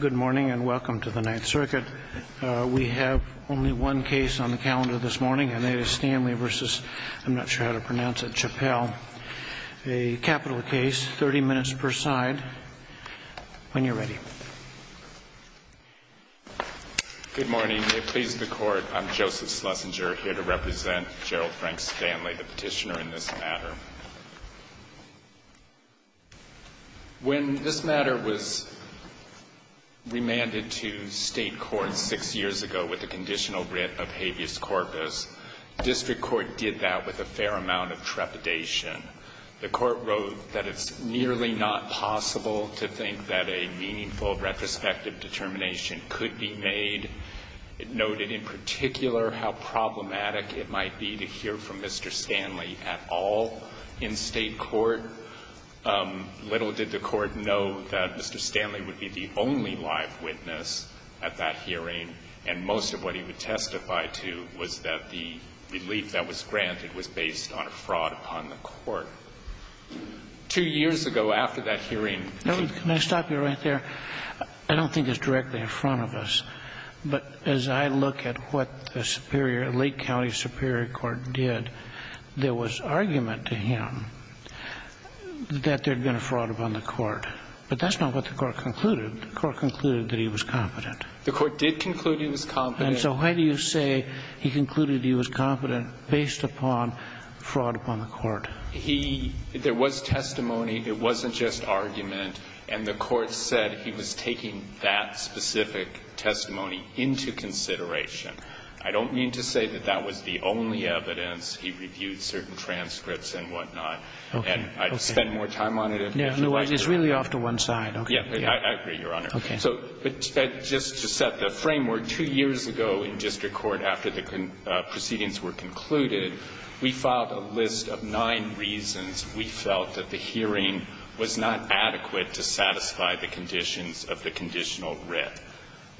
Good morning and welcome to the Ninth Circuit. We have only one case on the calendar this morning and it is Stanley v. I'm not sure how to pronounce it, Chappell. A capital case, 30 minutes per side. When you're ready. Good morning. It pleases the court, I'm Joseph Schlesinger here to represent Gerald Frank Stanley, the petitioner in this matter. When this matter was remanded to state court six years ago with a conditional writ of habeas corpus, district court did that with a fair amount of trepidation. The court wrote that it's nearly not possible to think that a meaningful retrospective determination could be made. It noted in particular how problematic it might be to hear from Mr. Stanley at all in the case. Did the court know that Mr. Stanley would be the only live witness at that hearing, and most of what he would testify to was that the relief that was granted was based on a fraud upon the court? Two years ago, after that hearing, Can I stop you right there? I don't think it's directly in front of us, but as I look at what the Superior, Lake County Superior Court did, there was argument to him that there had been a fraud upon the court. But that's not what the court concluded. The court concluded that he was competent. The court did conclude he was competent. And so why do you say he concluded he was competent based upon fraud upon the court? He – there was testimony. It wasn't just argument. And the court said he was taking that specific testimony into consideration. I don't mean to say that that was the only evidence. He reviewed certain transcripts and whatnot. Okay. And I'd spend more time on it if you'd like to. No, no. It's really off to one side. Okay. Yeah. I agree, Your Honor. Okay. So just to set the framework, two years ago in district court, after the proceedings were concluded, we filed a list of nine reasons we felt that the hearing was not adequate to satisfy the conditions of the conditional writ.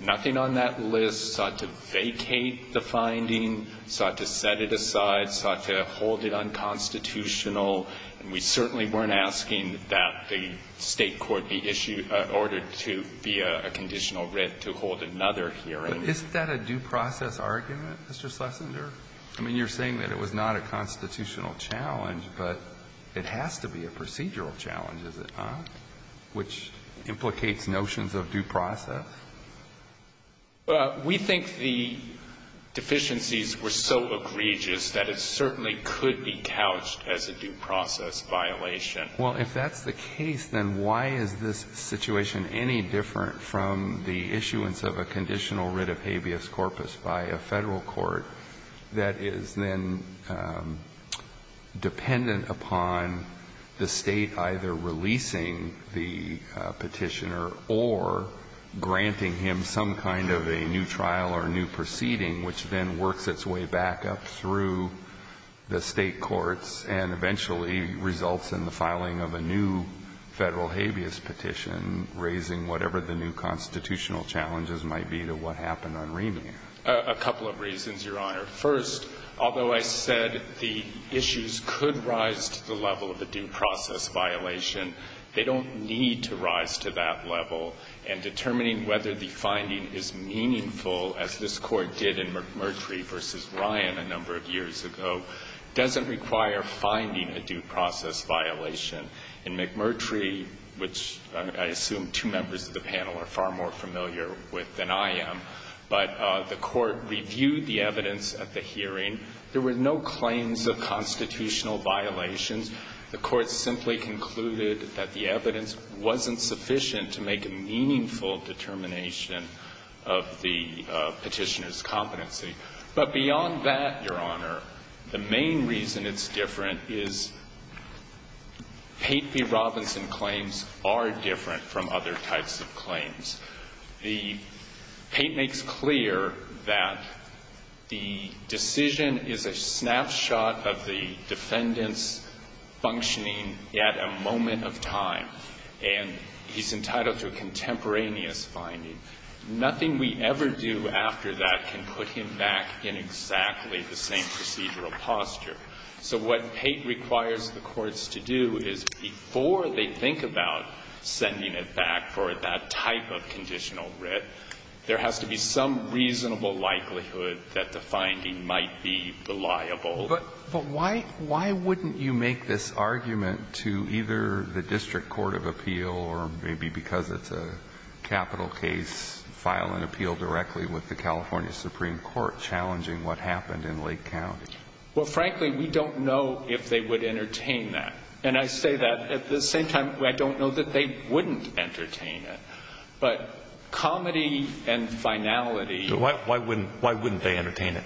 Nothing on that list sought to vacate the finding, sought to set it aside, sought to hold it unconstitutional. And we certainly weren't asking that the State court be issued – ordered to be a conditional writ to hold another hearing. But isn't that a due process argument, Mr. Schlesinger? I mean, you're saying that it was not a constitutional challenge, but it has to be a procedural challenge, is it not, which implicates notions of due process? Well, we think the deficiencies were so egregious that it certainly could be couched as a due process violation. Well, if that's the case, then why is this situation any different from the issuance of a conditional writ of habeas corpus by a Federal court that is then dependent upon the State either releasing the Petitioner or granting the Petitioner the right to do so, or granting him some kind of a new trial or a new proceeding, which then works its way back up through the State courts and eventually results in the filing of a new Federal habeas petition, raising whatever the new constitutional challenges might be to what happened on Remand? A couple of reasons, Your Honor. First, although I said the issues could rise to the level of a due process violation, they don't need to rise to that level. And determining whether the finding is meaningful, as this Court did in McMurtry v. Ryan a number of years ago, doesn't require finding a due process violation. In McMurtry, which I assume two members of the panel are far more familiar with than I am, but the Court reviewed the evidence at the hearing. There were no claims of constitutional violations. The Court simply concluded that the evidence wasn't sufficient to make a meaningful determination of the Petitioner's competency. But beyond that, Your Honor, the main reason it's different is Pate v. Robinson claims are different from other types of claims. The Pate makes clear that the decision is a snapshot of the defendant's functioning at a moment of time, and he's entitled to a contemporaneous finding. Nothing we ever do after that can put him back in exactly the same procedural posture. So what Pate requires the courts to do is, before they think about sending it back for that type of conditional writ, there has to be some reasonable likelihood that the finding might be reliable. But why wouldn't you make this argument to either the District Court of Appeal, or maybe because it's a capital case, file an appeal directly with the California Supreme Court challenging what happened in Lake County? Well, frankly, we don't know if they would entertain that. And I say that at the same time I don't know that they wouldn't entertain it. But comedy and finality... Why wouldn't they entertain it?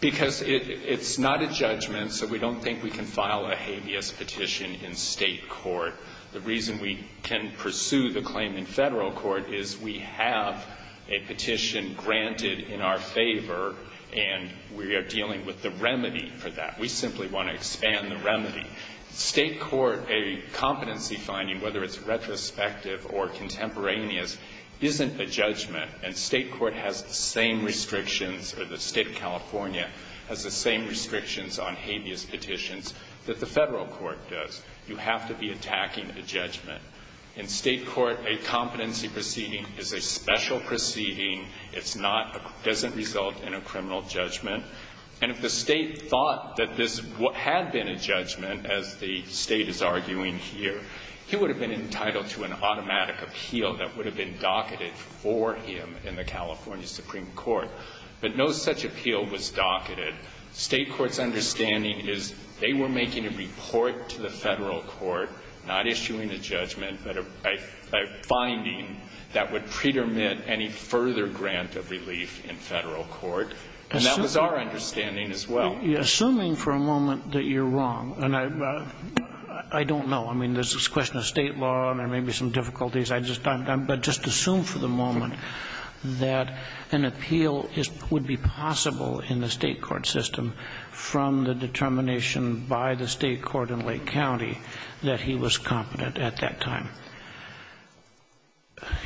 Because it's not a judgment, so we don't think we can file a habeas petition in State court. The reason we can pursue the claim in Federal court is we have a petition granted in our favor, and we are dealing with the remedy for that. We simply want to expand the remedy. State court, a competency finding, whether it's retrospective or contemporaneous, isn't a judgment. And State court has the same restrictions, or the State of California has the same restrictions on habeas petitions that the Federal court does. You have to be attacking a judgment. In State court, a competency proceeding is a special proceeding. It doesn't result in a criminal judgment. And if the State thought that this had been a judgment, as the State is arguing here, he would have been entitled to an automatic appeal that would have been in the California Supreme Court. But no such appeal was docketed. State court's understanding is they were making a report to the Federal court, not issuing a judgment, but a finding that would pre-dermit any further grant of relief in Federal court. And that was our understanding as well. Assuming for a moment that you're wrong, and I don't know. I mean, this is a question of State law, and there may be some difficulties. But just assume for the moment that an appeal would be possible in the State court system from the determination by the State court in Lake County that he was competent at that time.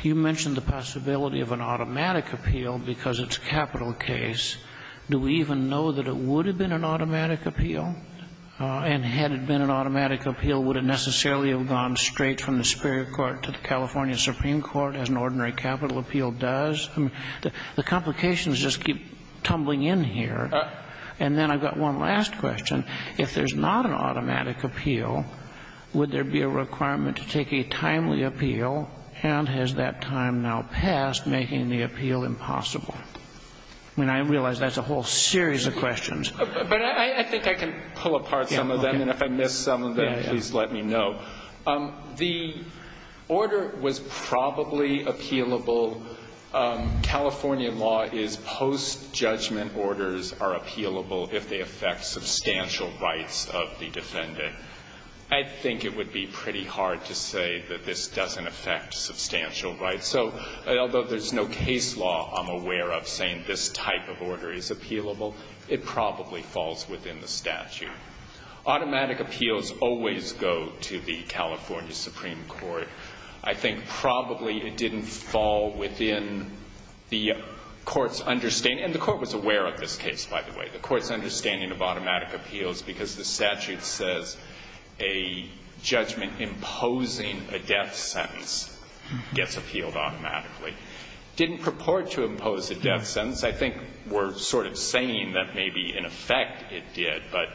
You mentioned the possibility of an automatic appeal because it's a capital case. Do we even know that it would have been an automatic appeal? And had it been an automatic appeal, would it necessarily have gone straight from the California Supreme Court as an ordinary capital appeal does? The complications just keep tumbling in here. And then I've got one last question. If there's not an automatic appeal, would there be a requirement to take a timely appeal, and has that time now passed, making the appeal impossible? I mean, I realize that's a whole series of questions. But I think I can pull apart some of them. And if I miss some of them, please let me know. The order was probably appealable. California law is post-judgment orders are appealable if they affect substantial rights of the defendant. I think it would be pretty hard to say that this doesn't affect substantial rights. So although there's no case law I'm aware of saying this type of order is appealable, it probably falls within the statute. Automatic appeals always go to the California Supreme Court. I think probably it didn't fall within the court's understanding. And the court was aware of this case, by the way. The court's understanding of automatic appeals because the statute says a judgment imposing a death sentence gets appealed automatically. Didn't purport to impose a death sentence. I think we're sort of saying that maybe, in effect, it did. But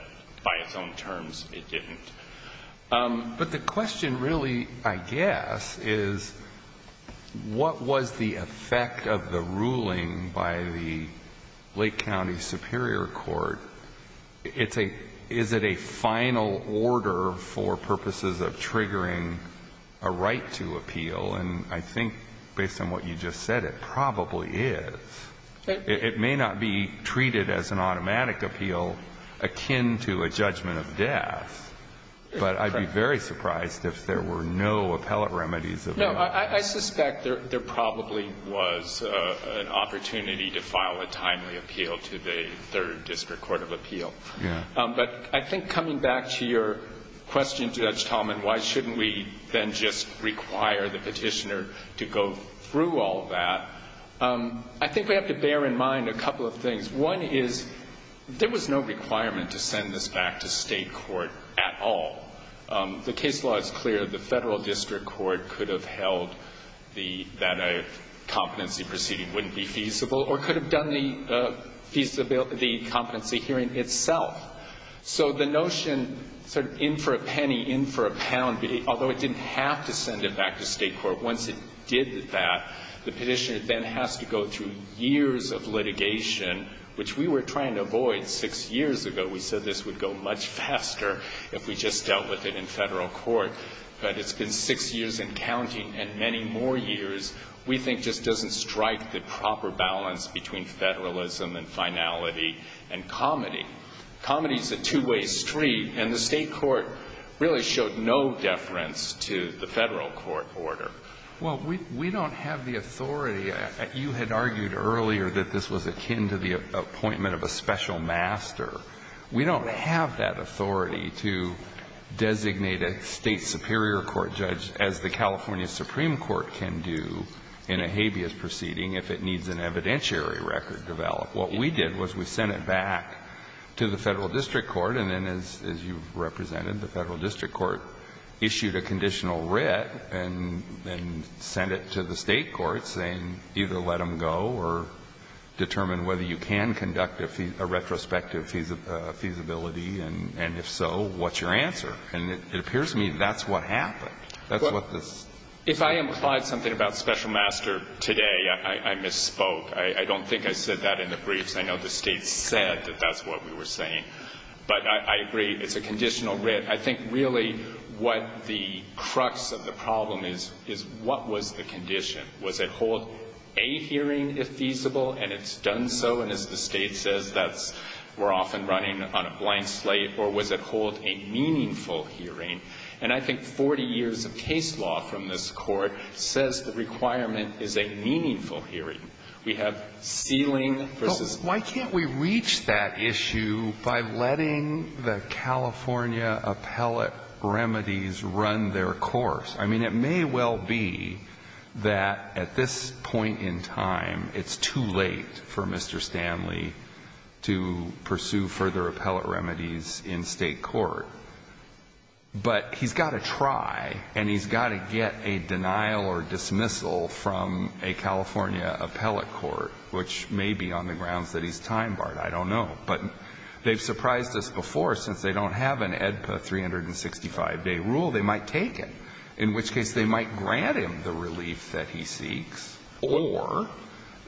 by its own terms, it didn't. But the question really, I guess, is what was the effect of the ruling by the Lake County Superior Court? Is it a final order for purposes of triggering a right to appeal? And I think based on what you just said, it probably is. It may not be treated as an automatic appeal akin to a judgment of death. But I'd be very surprised if there were no appellate remedies. No. I suspect there probably was an opportunity to file a timely appeal to the Third District Court of Appeal. Yeah. But I think coming back to your question, Judge Tallman, why shouldn't we then just require the Petitioner to go through all that? I think we have to bear in mind a couple of things. One is there was no requirement to send this back to state court at all. The case law is clear. The Federal District Court could have held that a competency proceeding wouldn't be feasible or could have done the competency hearing itself. So the notion sort of in for a penny, in for a pound, although it didn't have to The Petitioner then has to go through years of litigation, which we were trying to avoid six years ago. We said this would go much faster if we just dealt with it in federal court. But it's been six years and counting and many more years we think just doesn't strike the proper balance between federalism and finality and comedy. Comedy is a two-way street. And the state court really showed no deference to the federal court order. Well, we don't have the authority. You had argued earlier that this was akin to the appointment of a special master. We don't have that authority to designate a state superior court judge as the California Supreme Court can do in a habeas proceeding if it needs an evidentiary record developed. What we did was we sent it back to the Federal District Court and then as you represented, the Federal District Court issued a conditional writ and sent it to the state courts saying either let them go or determine whether you can conduct a retrospective feasibility and if so, what's your answer? And it appears to me that's what happened. If I implied something about special master today, I misspoke. I don't think I said that in the briefs. I know the state said that that's what we were saying. But I agree. It's a conditional writ. I think really what the crux of the problem is, is what was the condition? Was it hold a hearing if feasible and it's done so? And as the state says, that's we're often running on a blank slate. Or was it hold a meaningful hearing? And I think 40 years of case law from this Court says the requirement is a meaningful hearing. We have sealing versus. Why can't we reach that issue by letting the California appellate remedies run their course? I mean, it may well be that at this point in time, it's too late for Mr. Stanley to pursue further appellate remedies in state court. But he's got to try and he's got to get a denial or dismissal from a California appellate court, which may be on the grounds that he's time barred. I don't know. But they've surprised us before. Since they don't have an AEDPA 365-day rule, they might take it. In which case, they might grant him the relief that he seeks. Or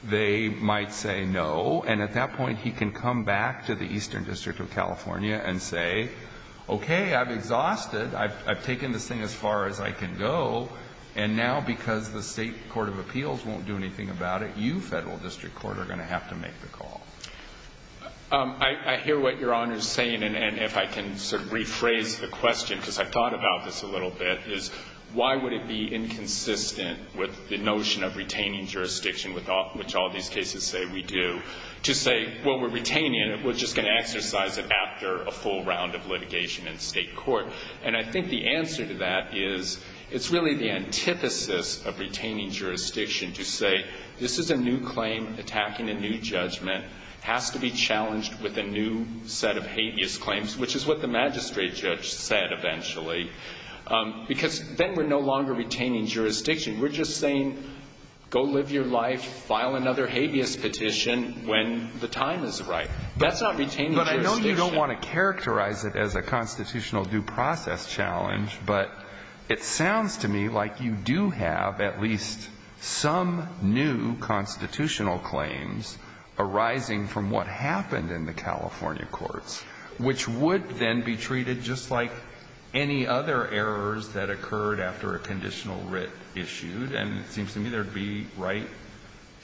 they might say no. And at that point, he can come back to the Eastern District of California and say, okay, I'm exhausted. I've taken this thing as far as I can go. And now, because the state court of appeals won't do anything about it, you, federal district court, are going to have to make the call. I hear what Your Honor is saying. And if I can sort of rephrase the question, because I've thought about this a little bit, is why would it be inconsistent with the notion of retaining jurisdiction, which all these cases say we do, to say, well, we're retaining it. We're just going to exercise it after a full round of litigation in state court. And I think the answer to that is, it's really the antithesis of retaining jurisdiction to say, this is a new claim attacking a new judgment. It has to be challenged with a new set of habeas claims, which is what the magistrate judge said eventually. Because then we're no longer retaining jurisdiction. We're just saying, go live your life, file another habeas petition when the time is right. That's not retaining jurisdiction. But I know you don't want to characterize it as a constitutional due process challenge, but it sounds to me like you do have at least some new constitutional claims arising from what happened in the California courts, which would then be treated just like any other errors that occurred after a conditional writ issued. And it seems to me there would be right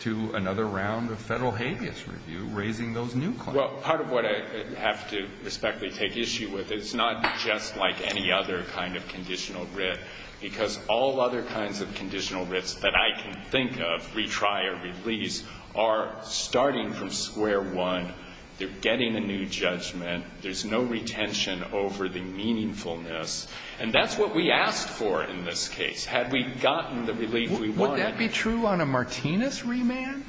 to another round of federal habeas review raising those new claims. Well, part of what I have to respectfully take issue with, it's not just like any other kind of conditional writ. Because all other kinds of conditional writs that I can think of, retry or release, are starting from square one. They're getting a new judgment. There's no retention over the meaningfulness. And that's what we asked for in this case. Had we gotten the relief we wanted. Would that be true on a Martinez remand?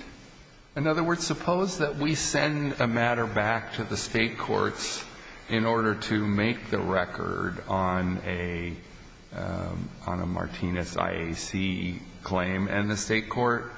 In other words, suppose that we send a matter back to the state courts in order to make the record on a Martinez IAC claim, and the state court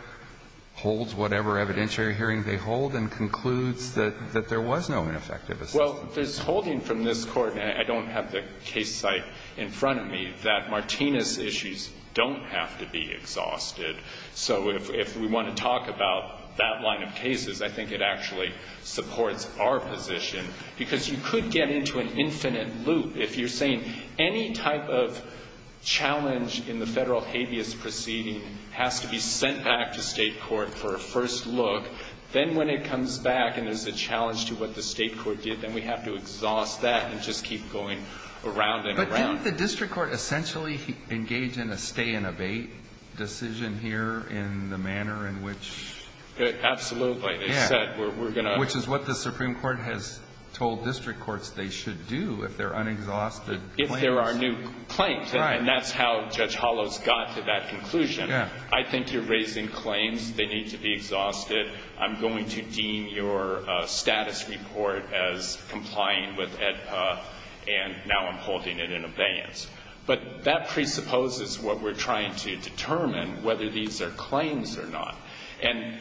holds whatever evidentiary hearing they hold and concludes that there was no ineffective assessment. Well, there's holding from this Court, and I don't have the case site in front of me, that Martinez issues don't have to be exhausted. So if we want to talk about that line of cases, I think it actually supports our position. Because you could get into an infinite loop. If you're saying any type of challenge in the federal habeas proceeding has to be sent back to state court for a first look, then when it comes back and there's a challenge to what the state court did, then we have to exhaust that and just keep going around and around. Wouldn't the district court essentially engage in a stay and abate decision here in the manner in which? Absolutely. They said we're going to. Which is what the Supreme Court has told district courts they should do if they're unexhausted. If there are new claims. Right. And that's how Judge Hollows got to that conclusion. Yeah. I think you're raising claims. They need to be exhausted. I'm going to deem your status report as complying with AEDPA, and now I'm holding it in abeyance. But that presupposes what we're trying to determine, whether these are claims or not. And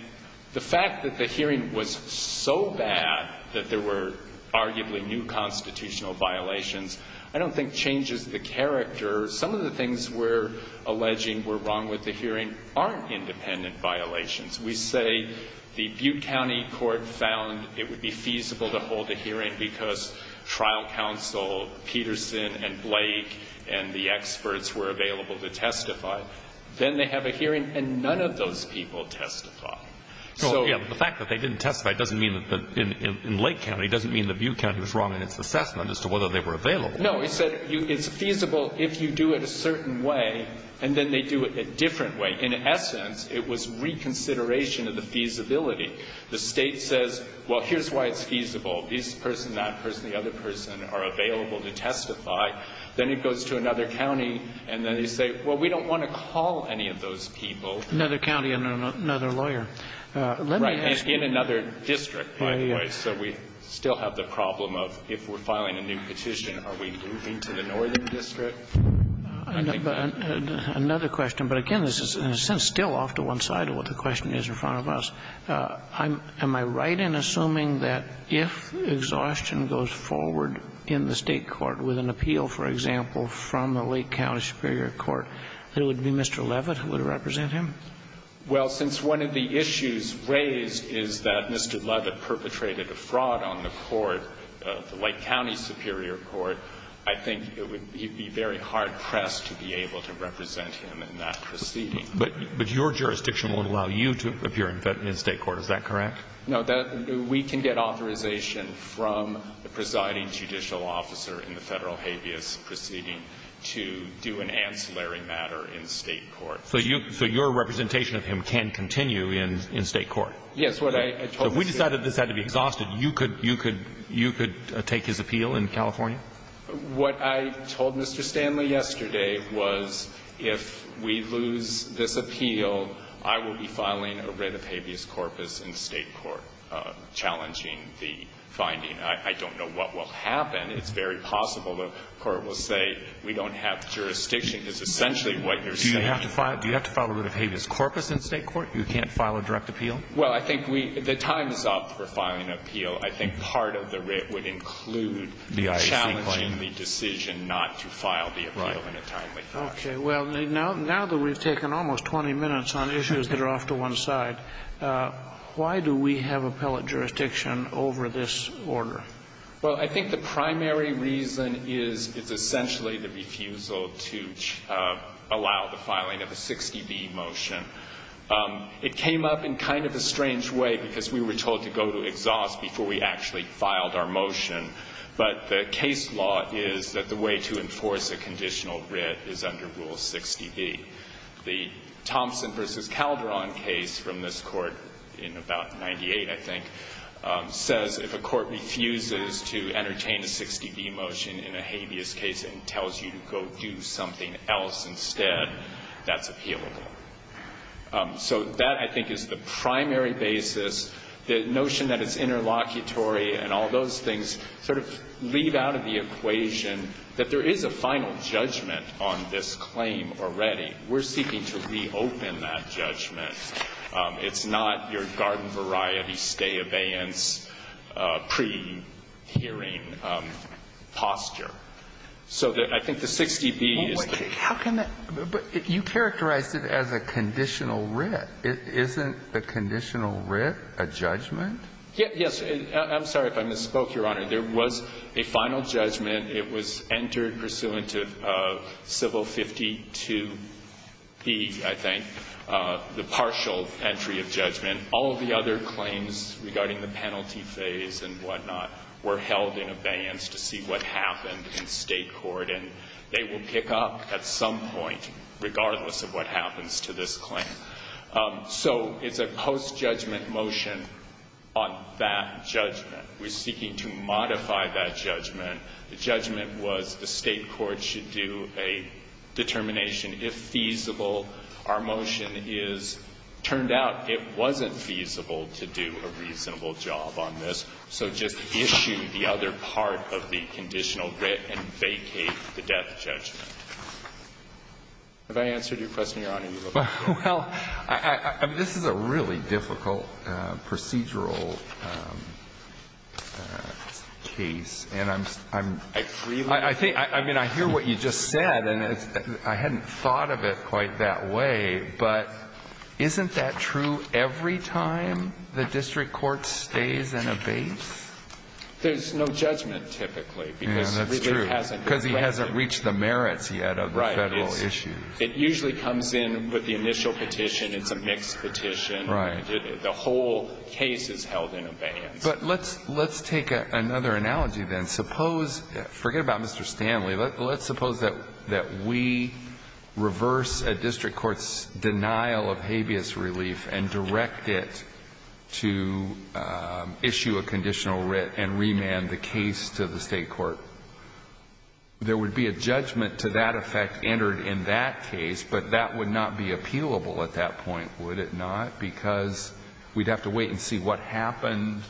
the fact that the hearing was so bad that there were arguably new constitutional violations, I don't think changes the character. Some of the things we're alleging were wrong with the hearing aren't independent violations. We say the Butte County court found it would be feasible to hold a hearing because trial counsel Peterson and Blake and the experts were available to testify. Then they have a hearing and none of those people testify. The fact that they didn't testify in Lake County doesn't mean the Butte County was wrong in its assessment as to whether they were available. No. It said it's feasible if you do it a certain way, and then they do it a different way. In essence, it was reconsideration of the feasibility. The state says, well, here's why it's feasible. This person, that person, the other person are available to testify. Then it goes to another county, and then they say, well, we don't want to call any of those people. Another county and another lawyer. Right. In another district, by the way. So we still have the problem of if we're filing a new petition, are we moving to the northern district? Another question, but again, this is in a sense still off to one side of what the question is in front of us. Am I right in assuming that if exhaustion goes forward in the state court with an appeal, for example, from the Lake County Superior Court, that it would be Mr. Levitt who would represent him? Well, since one of the issues raised is that Mr. Levitt perpetrated a fraud on the court, the Lake County Superior Court, I think it would be very hard-pressed to be able to represent him in that proceeding. But your jurisdiction would allow you to appear in state court. Is that correct? No. We can get authorization from the presiding judicial officer in the Federal habeas proceeding to do an ancillary matter in state court. So your representation of him can continue in state court? Yes. So if we decided this had to be exhausted, you could take his appeal in California? What I told Mr. Stanley yesterday was if we lose this appeal, I will be filing a writ of habeas corpus in state court challenging the finding. I don't know what will happen. It's very possible the court will say we don't have jurisdiction. It's essentially what you're saying. Do you have to file a writ of habeas corpus in state court? You can't file a direct appeal? Well, I think the time is up for filing an appeal. I think part of the writ would include challenging the decision not to file the appeal in a timely fashion. Okay. Well, now that we've taken almost 20 minutes on issues that are off to one side, why do we have appellate jurisdiction over this order? Well, I think the primary reason is it's essentially the refusal to allow the filing of a 60B motion. It came up in kind of a strange way because we were told to go to exhaust before we actually filed our motion. But the case law is that the way to enforce a conditional writ is under Rule 60B. The Thompson v. Calderon case from this court in about 98, I think, says if a court refuses to entertain a 60B motion in a habeas case and tells you to go do something else instead, that's appealable. So that, I think, is the primary basis. The notion that it's interlocutory and all those things sort of leave out of the equation that there is a final judgment on this claim already. We're seeking to reopen that judgment. It's not your garden-variety, stay-abeyance, pre-hearing posture. So I think the 60B is the case. But you characterized it as a conditional writ. Isn't the conditional writ a judgment? Yes. I'm sorry if I misspoke, Your Honor. There was a final judgment. It was entered pursuant to Civil 52B, I think, the partial entry of judgment. All of the other claims regarding the penalty phase and whatnot were held in abeyance to see what happened in State court. And they will pick up at some point, regardless of what happens to this claim. So it's a post-judgment motion on that judgment. We're seeking to modify that judgment. The judgment was the State court should do a determination, if feasible. Our motion is, turned out, it wasn't feasible to do a reasonable job on this. So just issue the other part of the conditional writ and vacate the death judgment. Have I answered your question, Your Honor? Well, this is a really difficult procedural case. I hear what you just said, and I hadn't thought of it quite that way. But isn't that true every time the district court stays in abeyance? There's no judgment, typically. Yeah, that's true, because he hasn't reached the merits yet of the Federal issues. It usually comes in with the initial petition. It's a mixed petition. The whole case is held in abeyance. But let's take another analogy, then. Forget about Mr. Stanley. Let's suppose that we reverse a district court's denial of habeas relief and direct it to issue a conditional writ and remand the case to the State court. There would be a judgment to that effect entered in that case, but that would not be appealable at that point, would it not? Because we'd have to wait and see what happened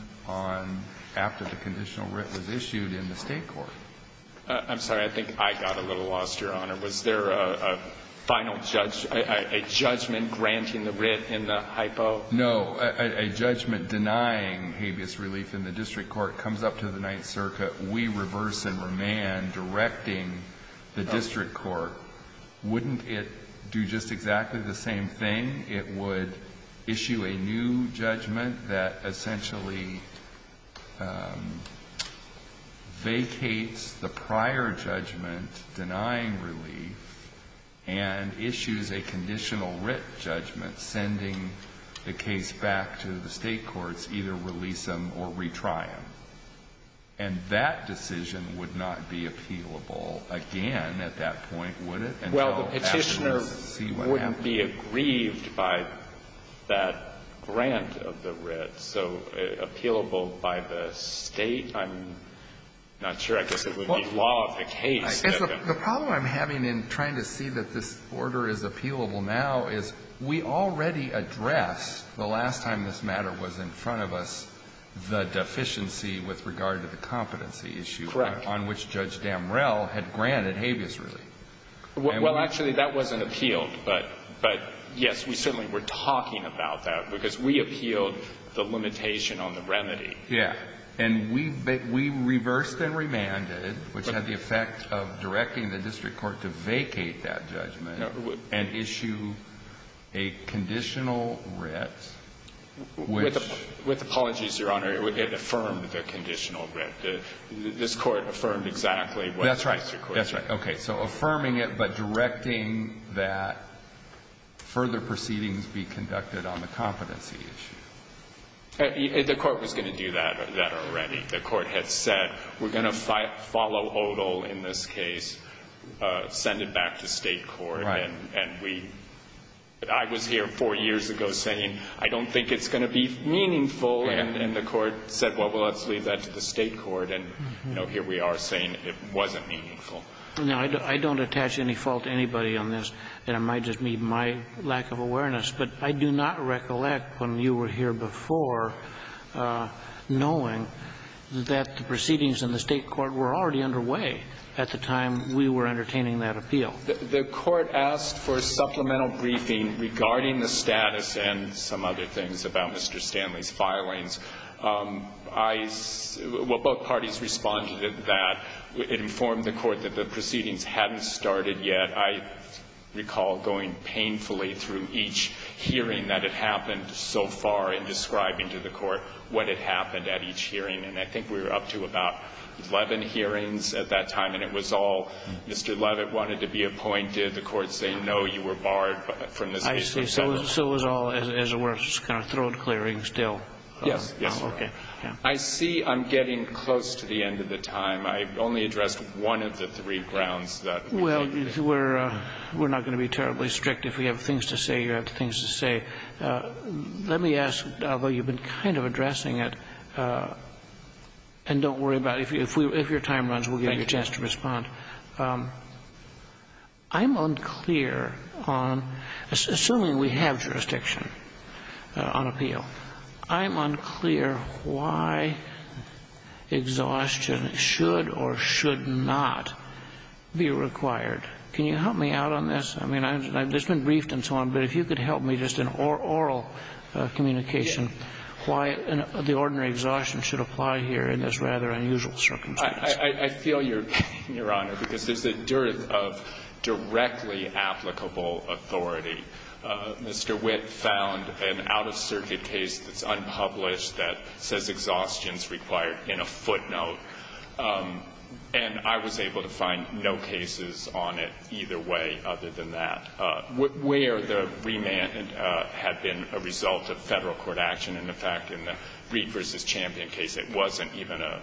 after the conditional writ was issued in the State court. I'm sorry. I think I got a little lost, Your Honor. Was there a final judgment granting the writ in the hypo? No. A judgment denying habeas relief in the district court comes up to the Ninth Circuit. We reverse and remand, directing the district court. Wouldn't it do just exactly the same thing? It would issue a new judgment that essentially vacates the prior judgment denying relief and issues a conditional writ judgment, sending the case back to the State courts, either release them or retry them. And that decision would not be appealable again at that point, would it? Well, the petitioner wouldn't be aggrieved by that grant of the writ, so appealable by the State, I'm not sure. I guess it would be law of the case. The problem I'm having in trying to see that this order is appealable now is we already addressed the last time this matter was in front of us the deficiency with regard to the competency issue on which Judge Damrell had granted habeas relief. Well, actually, that wasn't appealed. But, yes, we certainly were talking about that because we appealed the limitation on the remedy. Yeah. And we reversed and remanded, which had the effect of directing the district court to vacate that judgment and issue a conditional writ which... With apologies, Your Honor, it affirmed the conditional writ. This court affirmed exactly what the district court said. That's right. Okay. So affirming it but directing that further proceedings be conducted on the competency issue. The court was going to do that already. The court had said, we're going to follow Odole in this case, send it back to State court, and I was here four years ago saying, I don't think it's going to be meaningful, and the court said, well, let's leave that to the State court, and here we are saying it wasn't meaningful. Now, I don't attach any fault to anybody on this, and it might just be my lack of awareness, but I do not recollect when you were here before knowing that the proceedings in the State court were already underway at the time we were entertaining that appeal. The court asked for a supplemental briefing regarding the status and some other things about Mr. Stanley's filings. Well, both parties responded to that. It informed the court that the proceedings hadn't started yet. I recall going painfully through each hearing that had happened so far in describing to the court what had happened at each hearing, and I think we were up to about 11 hearings at that time, and it was all, Mr. Levitt wanted to be appointed, the court saying, no, you were barred from this case. I see. So it was all, as it were, just kind of throat clearing still. Yes. I see I'm getting close to the end of the time. I only addressed one of the three grounds. Well, we're not going to be terribly strict. If we have things to say, you have things to say. Let me ask, although you've been kind of addressing it, and don't worry about it, if your time runs, we'll give you a chance to respond. I'm unclear on, assuming we have jurisdiction, on appeal, I'm unclear why exhaustion should or should not be required. Can you help me out on this? I mean, I've just been briefed and so on, but if you could help me just in oral communication, why the ordinary exhaustion should apply here in this rather unusual circumstance? I feel, Your Honor, because there's a dearth of directly applicable authority. Mr. Witt found an out-of-circuit case that's unpublished that says exhaustion's required in a footnote, and I was able to find no cases on it either way other than that, where the remand had been a result of federal court action. In fact, in the Reed v. Champion case, it wasn't even a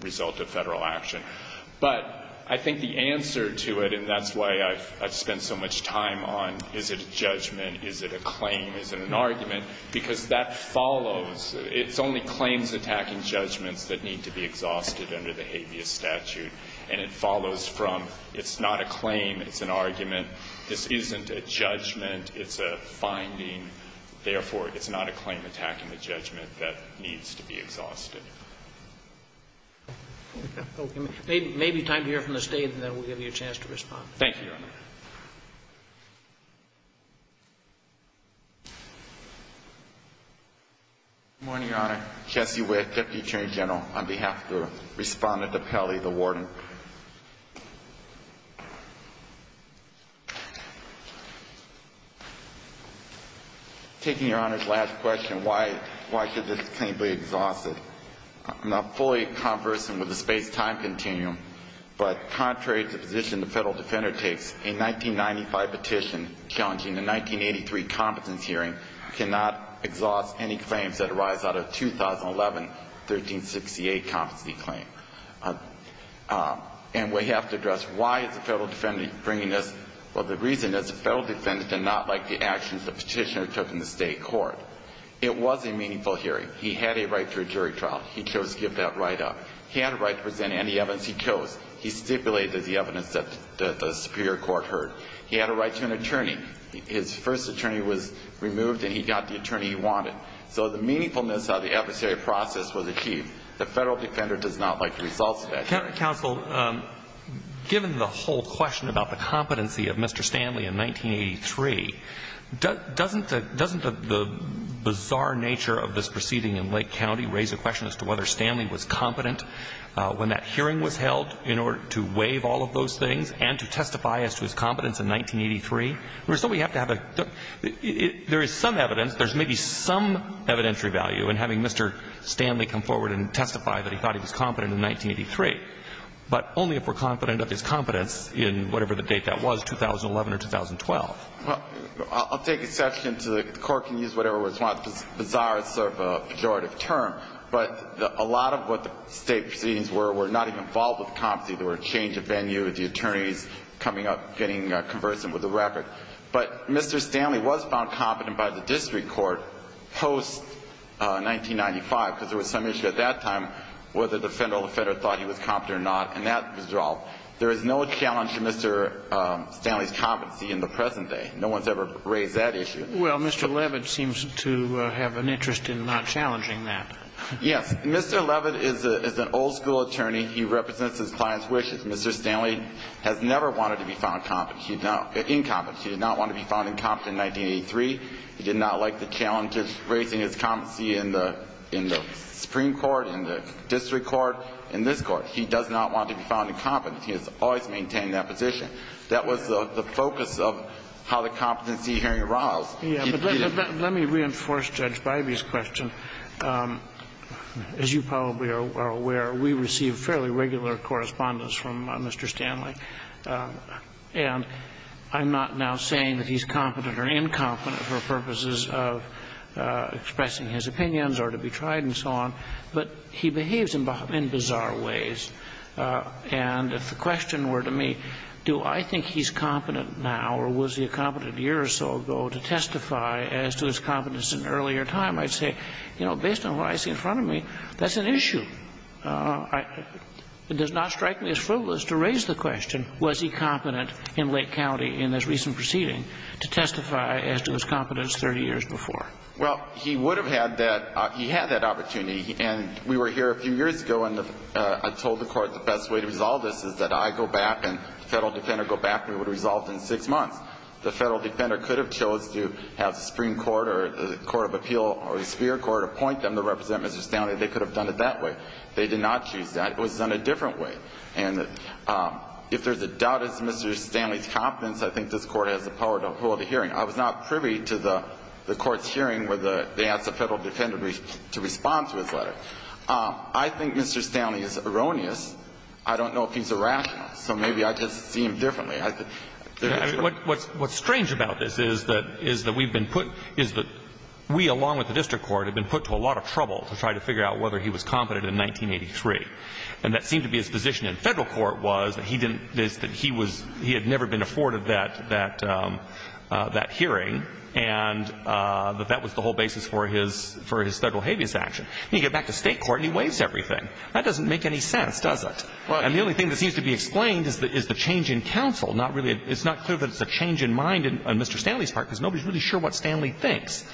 result of federal action. But I think the answer to it, and that's why I've spent so much time on is it a judgment? Is it a claim? Is it an argument? Because that follows. It's only claims attacking judgments that need to be exhausted under the habeas statute, and it follows from it's not a claim, it's an argument. This isn't a judgment, it's a finding. Therefore, it's not a claim attacking a judgment that needs to be exhausted. There may be time to hear from the State, and then we'll give you a chance to respond. Thank you, Your Honor. Good morning, Your Honor. Jesse Witt, Deputy Attorney General, on behalf of the Respondent to Pele, the Warden. Taking Your Honor's last question, why should this claim be exhausted? I'm not fully conversant with the space-time continuum, but contrary to the position the Federal Defender takes, a 1995 petition challenging the 1983 Competency Hearing cannot exhaust any claims that arise out of a 2011 1368 Competency Claim. And we have to address why is the Federal Defender bringing this? Well, the reason is the Federal Defender did not like the actions the Petitioner took in the State Court. It was a meaningful hearing. He had a right to a jury trial. He chose to give that right up. He had a right to present any evidence he chose. He stipulated the evidence that the Superior Court heard. He had a right to an attorney. His first attorney was removed and he got the attorney he wanted. So the meaningfulness of the adversary process was achieved. The Federal Defender does not like the results of that. Counsel, given the whole question about the competency of Mr. Stanley in 1983, doesn't the bizarre nature of this proceeding in Lake County raise a question as to whether Stanley was competent when that hearing was held in order to waive all of those things and to testify as to his competence in 1983? There is some evidence. There is maybe some evidentiary value in having Mr. Stanley come forward and testify that he thought he was competent in 1983, but only if we're confident of his competence in whatever the date that was, 2011 or 2012. I'll take exception to the Court can use whatever it wants. Bizarre is sort of a pejorative term, but a lot of what the State proceedings were, were not even involved with competency. There were a change of venue with the attorneys coming up getting conversant with the record, but Mr. Stanley was found competent by the District Court post-1995 because there was some issue at that time whether the federal defender thought he was competent or not, and that was resolved. There is no challenge to Mr. Stanley's competency in the present day. No one's ever raised that issue. Well, Mr. Levitt seems to have an interest in not challenging that. Yes. Mr. Levitt is an old-school attorney. He represents his client's wishes. Mr. Stanley has never wanted to be found incompetent. He did not want to be found incompetent in 1983. He did not like the challenges raising his competency in the Supreme Court, in the District Court, in this Court. He does not want to be found incompetent. He has always maintained that position. That was the focus of how the competency hearing arose. But let me reinforce Judge Bybee's question. As you probably are aware, we receive fairly regular correspondence from Mr. Stanley. And I'm not now saying that he's competent or incompetent for purposes of expressing his opinions or to be tried and so on. But he behaves in bizarre ways. And if the question were to me, do I think he's competent now or was he competent a year or so ago to testify as to his competence in earlier time, I'd say, you know, based on what I see in front of me, that's an issue. It does not strike me as frivolous to raise the question, was he competent in Lake County in this recent proceeding to testify as to his competence 30 years before. Well, he would have had that, he had that opportunity and we were here a few years ago and I told the Court the best way to resolve this is that I go back and the Federal Defender would go back and resolve it in six months. The Federal Defender could have chosen to have the Supreme Court or the Court of Appeal or the Superior Court appoint them to represent Mr. Stanley. They could have done it that way. They did not choose that. It was done a different way and if there's a doubt in Mr. Stanley's competence I think this Court has the power to hold a hearing. I was not privy to the Court's hearing where they asked the Federal Defender to respond to his letter. I think Mr. Stanley is erroneous. I don't know if he's irrational. So maybe I just see him differently. What's strange about this is that we've been put to a lot of trouble to try to figure out whether Mr. Stanley is responsible for his federal habeas action. You get back to state court and he waves everything. That doesn't make any sense, does it? The only thing that seems to be explained is the change in counsel. It's not clear that it's a change in mind on Mr. Stanley's part, because nobody's sure what Stanley thinks.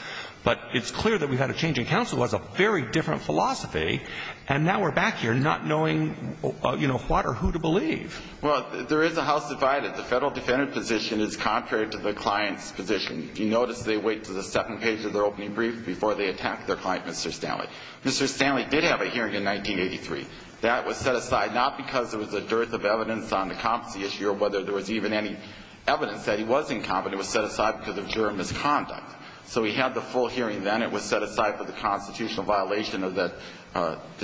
But it's clear that we've had a change in counsel that was a very different philosophy. And now we're back here not knowing what or who to believe. Well, there is a house divided. The federal defendant position is contrary to the client's position. Mr. Stanley did have a hearing in 1983. That was set aside not because there was a dearth of evidence on the competency issue or whether there was even any evidence that he was incompetent was set aside because of juror misconduct. So he had the full hearing then. It was set aside for the constitutional violation of the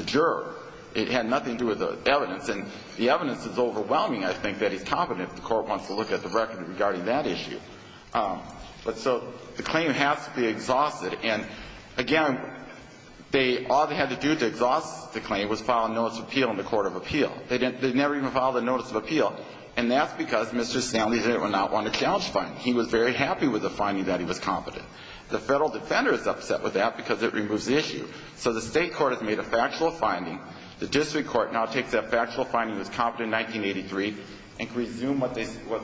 juror. It had nothing to do with the evidence. And the evidence is overwhelming, I think, that he's never looked at the record regarding that issue. So the claim has to be exhausted. Again, all they had to do to exhaust the claim was file a notice of appeal in the Court of Appeal. They never even filed a notice of appeal. And that's because Mr. Stanley did not want a challenge finding. He was very happy with the finding that he was competent. The federal defender is upset with that because it removes the issue. So the state court has made a factual finding in 1983 and resumed what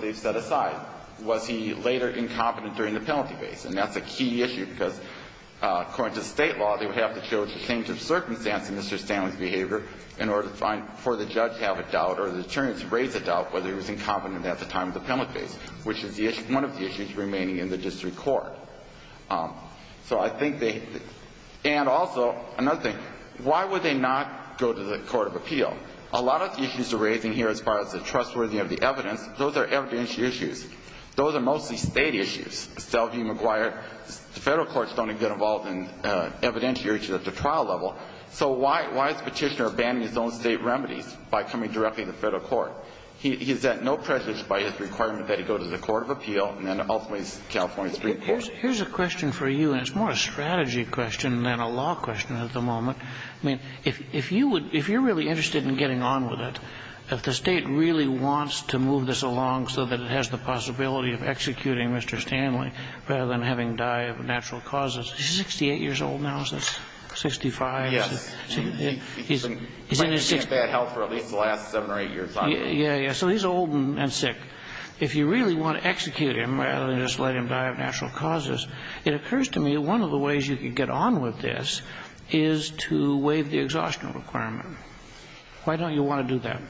they've set aside. Was he later incompetent during the penalty case? That's a key issue because according to the state law they would have to change Mr. Stanley's behavior for the judge to raise a doubt whether he was incompetent at the time of the penalty case, which is one of the issues remaining in the district court. And also, another thing, why would they not go to the court of appeal? A lot of the issues are evidence issues. Those are mostly state issues. The federal courts don't get involved in evidence issues at the trial level. So why is the petitioner abandoning his own state remedies by coming directly to the federal court? He's at no pressure to go to the court of national causes. He's 68 years old now. He's in his 60s. So he's old and sick. If you really want to execute him, it occurs to me one of the ways you can get on with this is to waive the exhaustion requirement. Why don't I think that's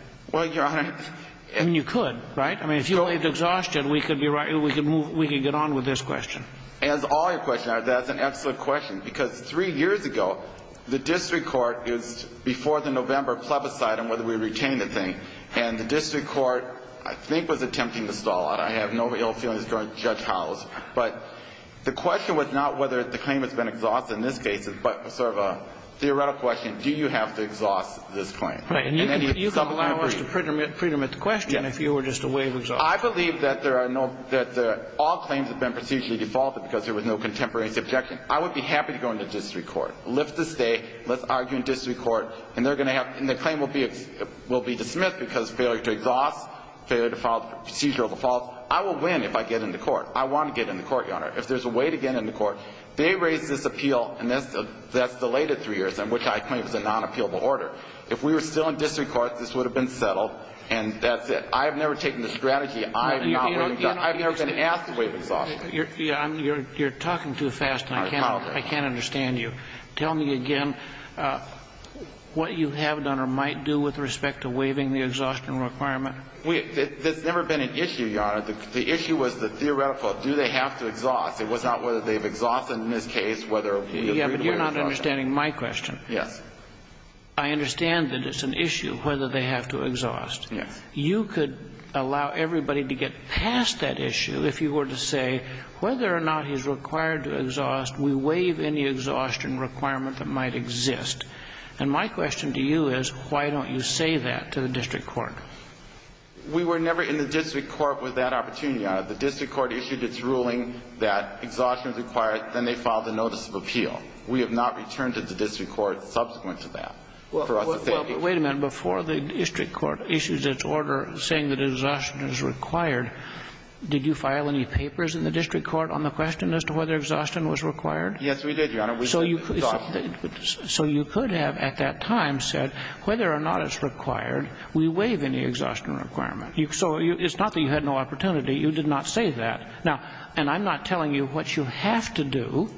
an excellent question. Three years ago the district court was attempting to stall out. The question was not whether the claim was exhausted in this case, but it was more of a theoretical question. Do you have to exhaust this claim? I believe that all claims have been procedurally defaulted. I would be happy to go into district court. The claim will be dismissed because failure to exhaust failure to procedural default. I will win if I get into court. If there's a way to get into court, they raise this appeal and that's a non- appealable order. If we were still in district court, this would have been settled and that's it. I've never taken the strategy. I've never been asked to waive exhaustion. I can't understand you. Tell me if you could allow everybody to get past that issue if you were to say whether or not he's required to exhaust we waive any exhaustion requirement that might exist. And my question to you is why don't you say that to the district court? We were never in the district court with that opportunity. The district court issued its ruling that exhaustion was required then they filed a notice of appeal. We have not returned it to the district court subsequent to that. Wait a minute, before the district court issued its order saying exhaustion is required, did you file any papers on the question as to whether exhaustion was required? Yes, we did, Your Honor. So you could have at that time said whether or not it's required, we waive any exhaustion requirement. So it's not that you had no opportunity, you did not say that. And I'm not telling you what you have to do,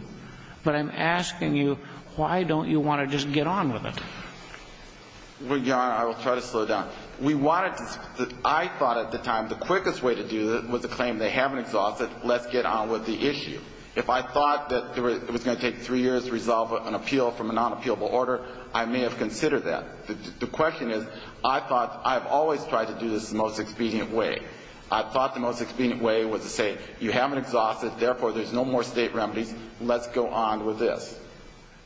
but I'm asking you why don't you want to just get on with it? Well, Your Honor, I will try to slow down. We wanted to, I thought at the time the quickest way to do it was the claim they haven't exhausted, let's get on with the issue. If I thought that it was going to take three years, the quickest way was to say you haven't exhausted, therefore, there's no more state remedies, let's go on with this.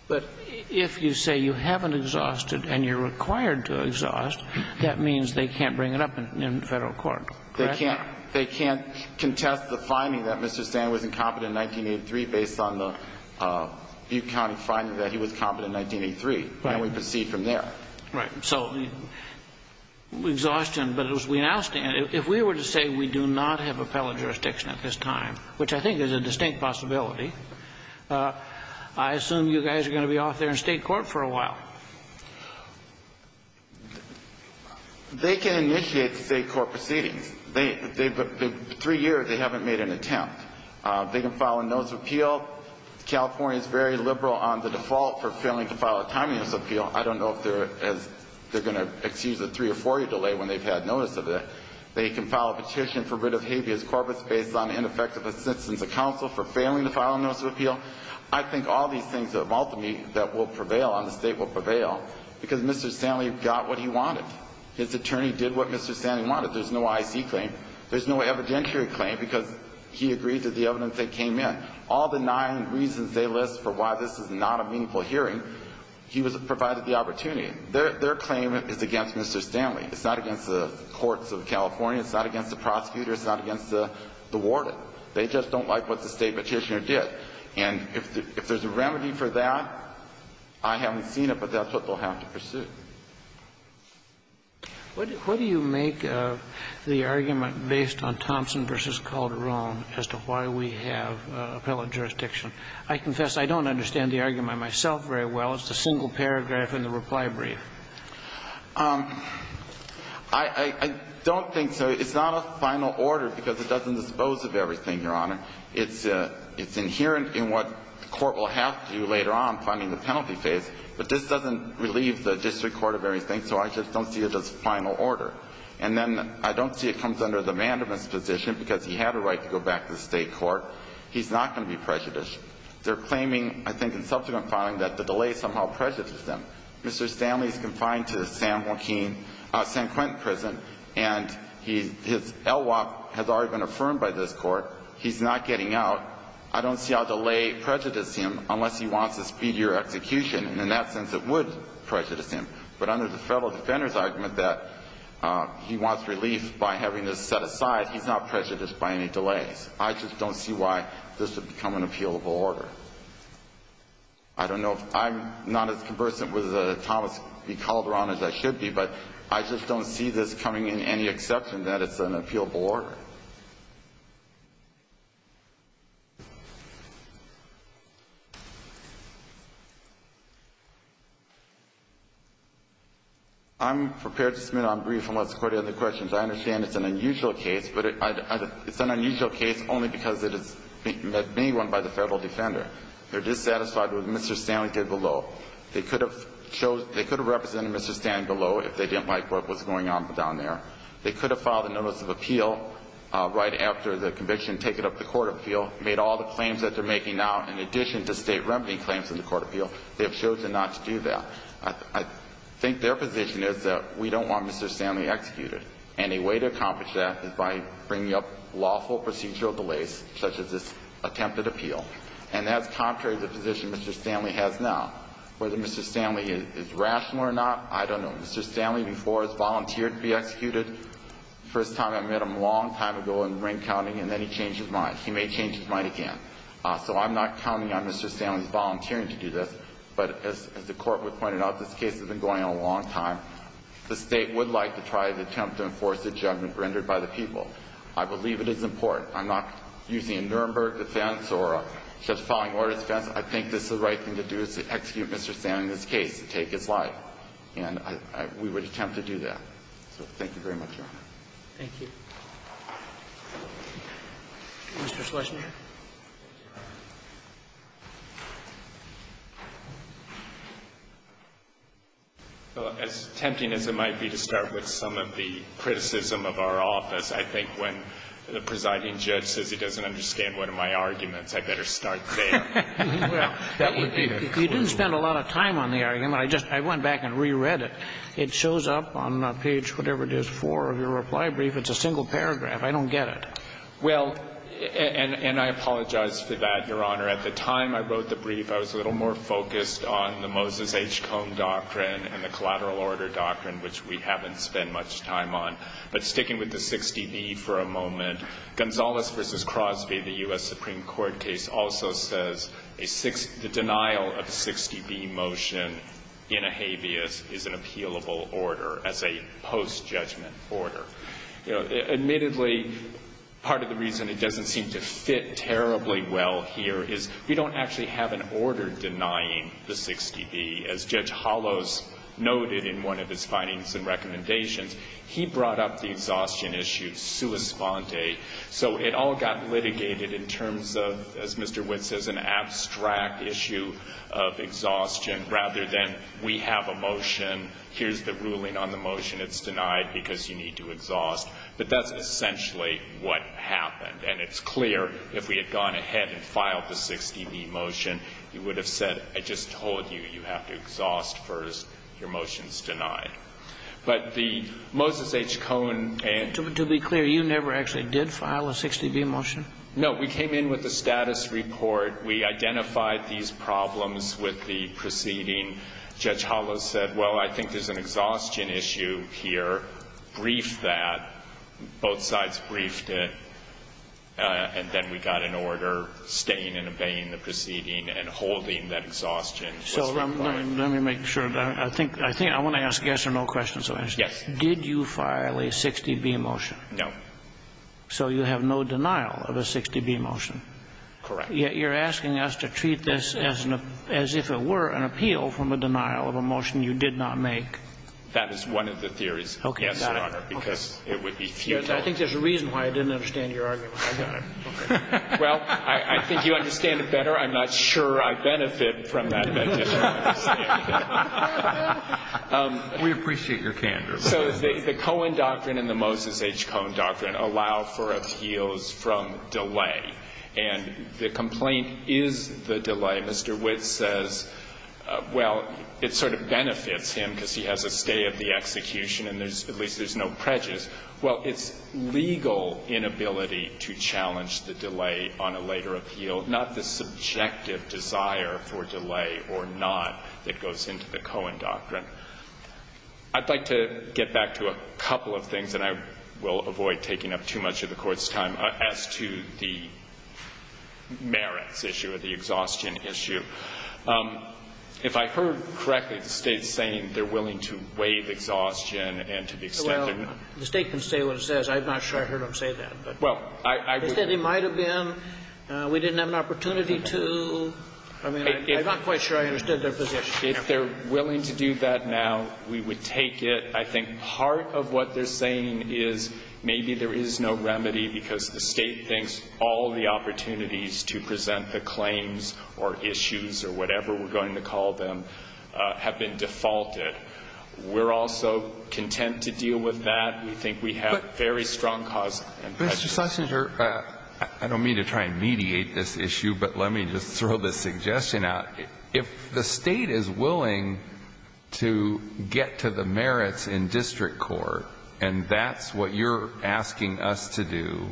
But if you say you haven't exhausted and you're required to exhaust, that means they can't bring it up in federal court, correct? They can't contest the finding that Mr. has exhausted. But as we now stand, if we were to say we do not have appellate jurisdiction at this time, which I think is a distinct possibility, I assume you guys are going to be off there in state court for a while. They can initiate state court proceedings. Three years they haven't made an attempt. They can file a notice of appeal. California is very liberal on the default for failing to file a timeliness appeal. I don't know if they're going to excuse a three or four year delay when they've had notice of it. They can file a petition for a notice of appeal. There's no evidentiary claim. All the nine reasons they list for why this is not a meaningful hearing, he was provided the opportunity. Their claim is against Mr. Stanley. It's not against the prosecutor. They just don't like what the state petitioner did. If there's a remedy for that, I haven't seen it, but that's what they'll have to pursue. What do you make of the argument based on Thompson v. Calderon as to why we have appellate jurisdiction? I confess I don't understand the argument myself very well. It's a single paragraph in the reply brief. I don't think so. It's not a final order because it doesn't dispose of everything, Your Honor. It's inherent in what the court will have to later on finding the penalty phase, but this doesn't relieve the district court of everything, so I just don't see it as a final order. And then I don't see it comes under the mandamus position because he had a right to go back to the state court. He's not going to be prejudiced. They're claiming, I think, in subsequent cases, that the delay somehow prejudices them. Mr. Stanley is confined to San Quentin prison and his LWOP has already been affirmed by this court. He's not getting out. I don't see how delay prejudices him unless he wants a speedier execution, and in that sense it would prejudice him. But under the Federal Defender's argument that he wants relief by having this set aside, he's not prejudiced by any delays. I just don't see why this would become an appealable order. I don't know if I'm not as conversant with Thomas B. Calderon as I should be, but I just don't see this becoming any exception that it's an appealable order. I'm prepared to submit on brief unless the court has any questions. I understand it's an unusual case, but it's an unusual case only because it is being run by the Federal Defender. They're dissatisfied with what Mr. Stanley was doing down there. They could have filed a notice of appeal right after the conviction taken up the court appeal, made all the claims that they're making now in addition to state remedy claims in the court appeal. They've chosen not to do that. I think their position is that we don't want Mr. Stanley executed. And a way to accomplish that is by bringing up lawful procedural delays such as this attempted appeal. And that's contrary to the position Mr. Stanley has now. Whether Mr. Stanley is rational or not, I don't know. Mr. Stanley before has volunteered to be executed. The first time I met him a long time ago in ring counting and then he changed his mind. He may change his mind again. So I'm not counting on Mr. Stanley's volunteering to do this, but as the court pointed out, this case has been going on a long time. The state would like to try to enforce the judgment rendered by the people. I believe it is important. I'm not using a Nuremberg defense or a justifying order defense. I think this is the right thing to do is to execute Mr. Stanley in this case and take his life. And we would attempt to do that. So thank you very much, Your Honor. Thank you. Mr. Schlesinger. As tempting as it might be to start with some of the criticism of our office, I think when the presiding judge says he doesn't understand one of my arguments, I better start there. You didn't spend a lot of time on the argument. I just went back and re-read it. It shows up on page 4 of your reply brief. It's a single paragraph. I don't get it. Well, and I apologize for that, Your Honor. At the time I wrote the brief, I was a little more focused on the Moses case. The Supreme Court case also says the denial of the 60B motion in a habeas is an appealable order as a post judgment order. Admittedly, part of the reason it doesn't seem to fit terribly well here is we don't actually have an order denying the 60B. As Judge Hollos noted in one of his findings and recommendations, he brought up the exhaustion issue sua sponte. So it all got litigated in terms of, as Mr. Witt says, an abstract issue of exhaustion rather than we have a motion, here's the ruling on the motion, it's denied because you need to exhaust. But that's essentially what happened. And it's clear if we had gone ahead and filed the 60B motion, you would have said, I just told you, you have to exhaust first, your motion is denied. But the we had these problems with the proceeding, Judge Hollos said, well, I think there's an exhaustion issue here, brief that, both sides briefed it, and then we got an order staying and obeying the proceeding and holding that exhaustion. So let me make sure, I want to ask yes or no questions. I want to ask, did you file a 60B motion? No. So you have no denial of a 60B motion. Correct. Yet you're asking us to treat this as if it were an appeal from a denial of a motion you did not make. That is one of the theories. I think there's a reason why I didn't understand your argument. I got it. Okay. Well, I think you understand it better. I'm not sure I benefit from that. We appreciate your candor. So the Cohen doctrine and the Moses H. Cohen doctrine allow for appeals from delay. And the complaint is the delay. Mr. the delay is no prejudice. Well, it's legal inability to challenge the delay on a later appeal, not the subjective desire for delay or not that goes into the Cohen doctrine. I'd like to get back to a couple of things, and I will avoid taking up too much of the time. The state can say what it says. I'm not sure I heard them say that. We didn't have an opportunity to I mean, I'm not quite sure I understood their position. If they're willing to do that now, we would take it. I think part of what they're saying is maybe there is no need to mediate this issue. If the state is willing to get to the merits in district court, and that's what you're asking us to do,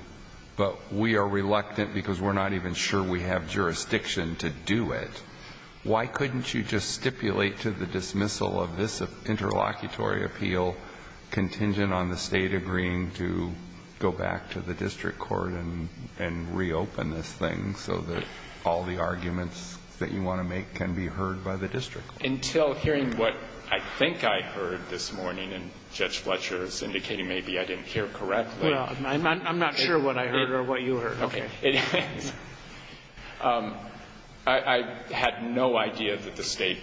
but we are reluctant because we're not even sure we have jurisdiction to do it, why couldn't you just stipulate to the dismissal of this interlocutory appeal contingent on the state agreeing to go back to the district court and reopen this thing so that all the arguments that you want to make can be heard by the district court? What I think I heard this is that the state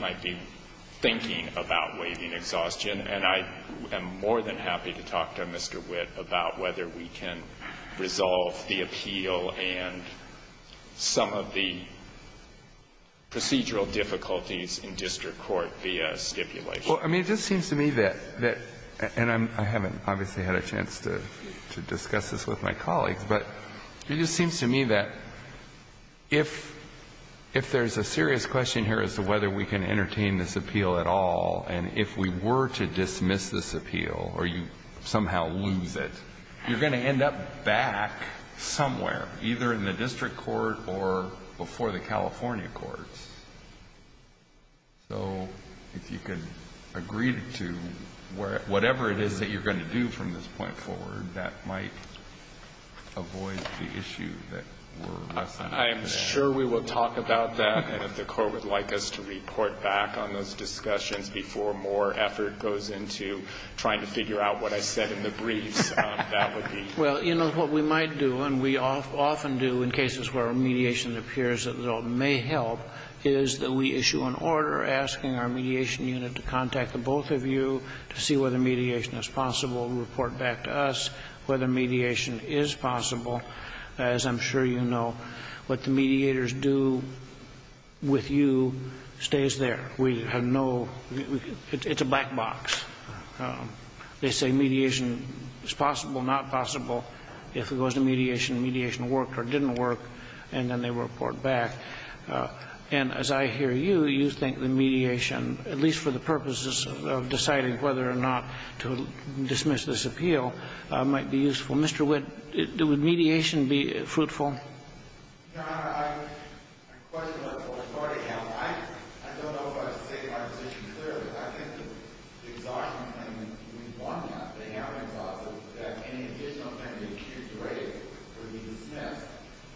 might be thinking about waiting exhaustion, and I am more than happy to talk to Mr. Witt about whether we can resolve the appeal and some of the procedural difficulties in district court via stipulation. I mean, it just seems to me that if there's a serious question here as to whether we can entertain this appeal at all, and if we were to dismiss this appeal, or you somehow lose it, you're going to end up back somewhere, either in the district court or before the California courts. So if you can agree to whatever it is that you're going to do, and can't whatever it is that going to district court would like us to report back on those discussions before more effort goes into trying to figure out what I said in the briefs. That would be very helpful. And the question with you stays there. It's a black box. They say mediation is possible, not possible. If it goes to mediation, mediation worked or didn't work, and then they report back. And as I hear you, you think the mediation, at least for the purposes of deciding whether or not to dismiss this appeal, might be useful. Mr. Witt, would mediation be fruitful? MR. WITT Your Honor, I question what the court already has. I don't know if I have to state my position clearly. I think that the exhaustion claim that we want to have, the Hamilton clause, that any additional claim to excuse the rape would be dismissed.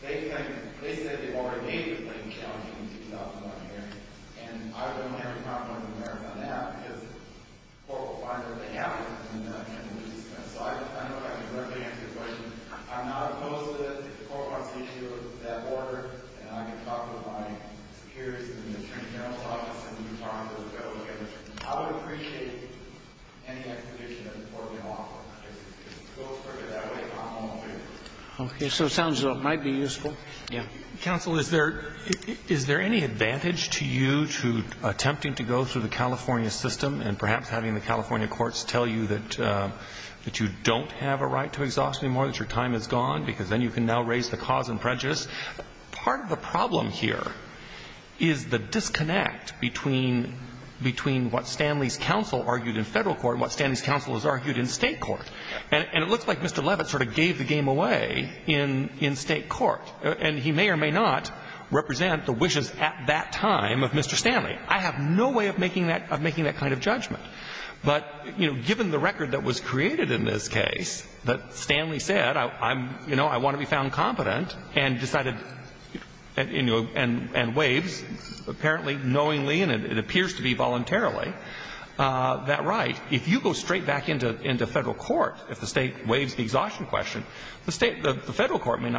They said they already made the claim challenging in 2001 hearing, and I don't have a problem with the merits on that because the court will find that they have merits on that claim. So I don't know if I can directly answer your question. I'm not opposed to the court court's issue of that order, and I can talk with my security and the attorney general's office and the department about that. I would appreciate any explanation that the can offer. It goes further that way. It might be useful. Yeah. Counsel, is there any advantage to you to attempting to go through the California system and perhaps having the California courts tell you that you don't have a right to exhaustion anymore, that your time is gone, because then you can now raise the cause and prejudice? Part of the problem here is the disconnect between what Stanley's judgment says and what federal courts say. I don't think that the federal courts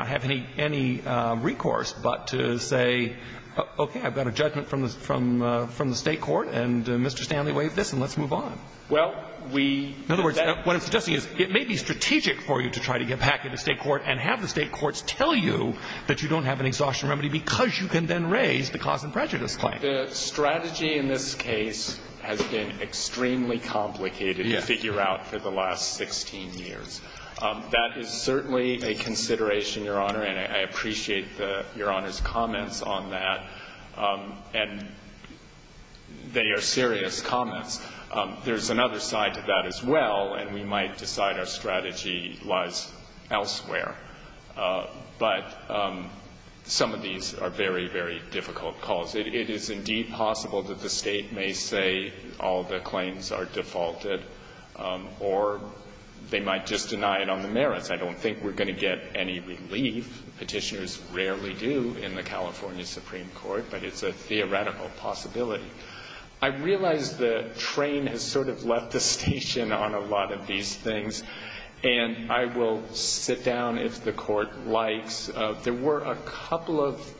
have any recourse but to say, okay, I've got a judgment from the state court, and Mr. Stanley waived this and let's move on. In other words, what I'm suggesting is it may be strategic for you to try to get back into the state court and have the state courts tell you that you don't have an exhaustion remedy because you can then raise the cause and prejudice claim. The strategy in this case has been extremely complicated to figure out for the last 16 years. That is certainly a consideration, Your Honor, and I appreciate Your Honor's comments on that, and they are serious comments. There's another side to that as well, and we might decide our strategy lies elsewhere. But some of these are very, very difficult calls. It is indeed possible that the state may say all the claims are defaulted or they might just deny it on the merits. I don't think we're going to get any relief. Petitioners rarely do in the California Supreme Court. And I will sit down if the Court likes. There were a couple of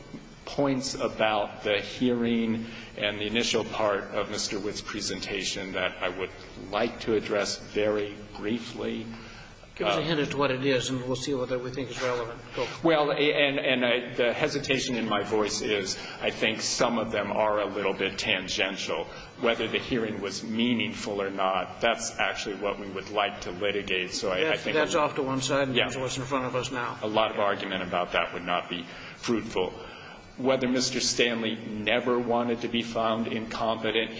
points about the hearing and the initial part of Mr. Witt's presentation that I would like to address very briefly. Give us a hint as to what it is, and we'll see what we think is relevant. Well, and the hesitation in my voice is I think some of them are a little bit tangential. hearing was meaningful or not, that's actually what we would like to litigate. That's off to one side and that's what's in front of us now. A lot of argument about that would not be fruitful. Whether Mr. Witt is incompetent or not, it would be incompetent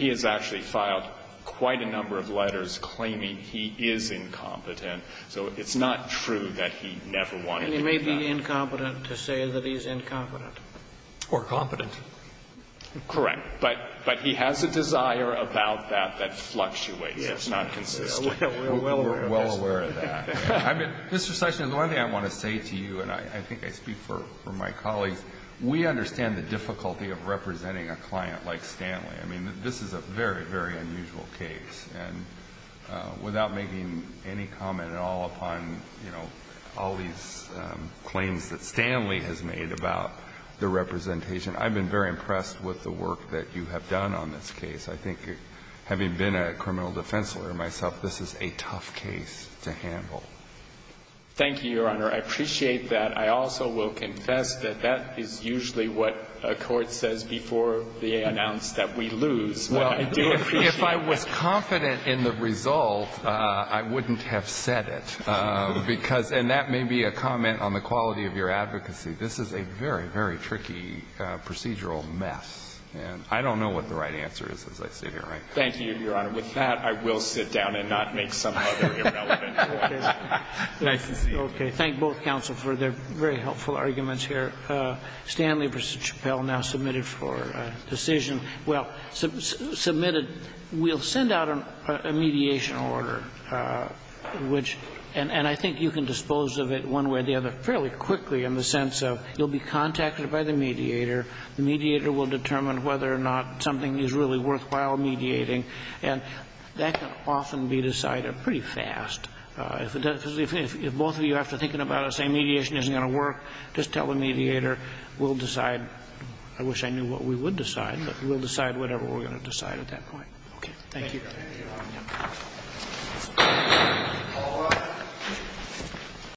to say that he's incompetent. Or competent. Correct. But he has a desire about that that fluctuates. It's not consistent. We're well aware of that. Mr. Sessions, one thing I want to say to you, and I think I speak for my colleagues, we understand the difficulty of representing a client like Stanley. This is a very, very unusual case. And without making any comment at all upon, you know, all these claims that Stanley has made about the representation, I've been very impressed with the work that you have done on this case. I think having been a criminal defense lawyer myself, this is a tough case to handle. Thank you, Your Honor. I appreciate that. I also will confess that that is usually what a court says before they announce that we lose. I do appreciate that. If I was confident in the result, I wouldn't have said it. And that may be a comment on the quality of your advocacy. This is a very, very tricky procedural mess. And I don't know what the right answer is, as I sit here. Thank you, Your Honor. With that, I will sit down and not make some other irrelevant comments. Thank you. Thank both counsel for their very helpful arguments here. Stanley v. I think you answered it fairly quickly in the sense of you'll be contacted by the mediator, the mediator will determine whether or not something is really worthwhile mediating. And that can often be decided pretty fast. If both of you have to think about it and say mediation isn't going to work, just tell the mediator we'll decide, I wish I knew what we would decide, but we'll decide whatever decide at that point. Thank you. Thank you,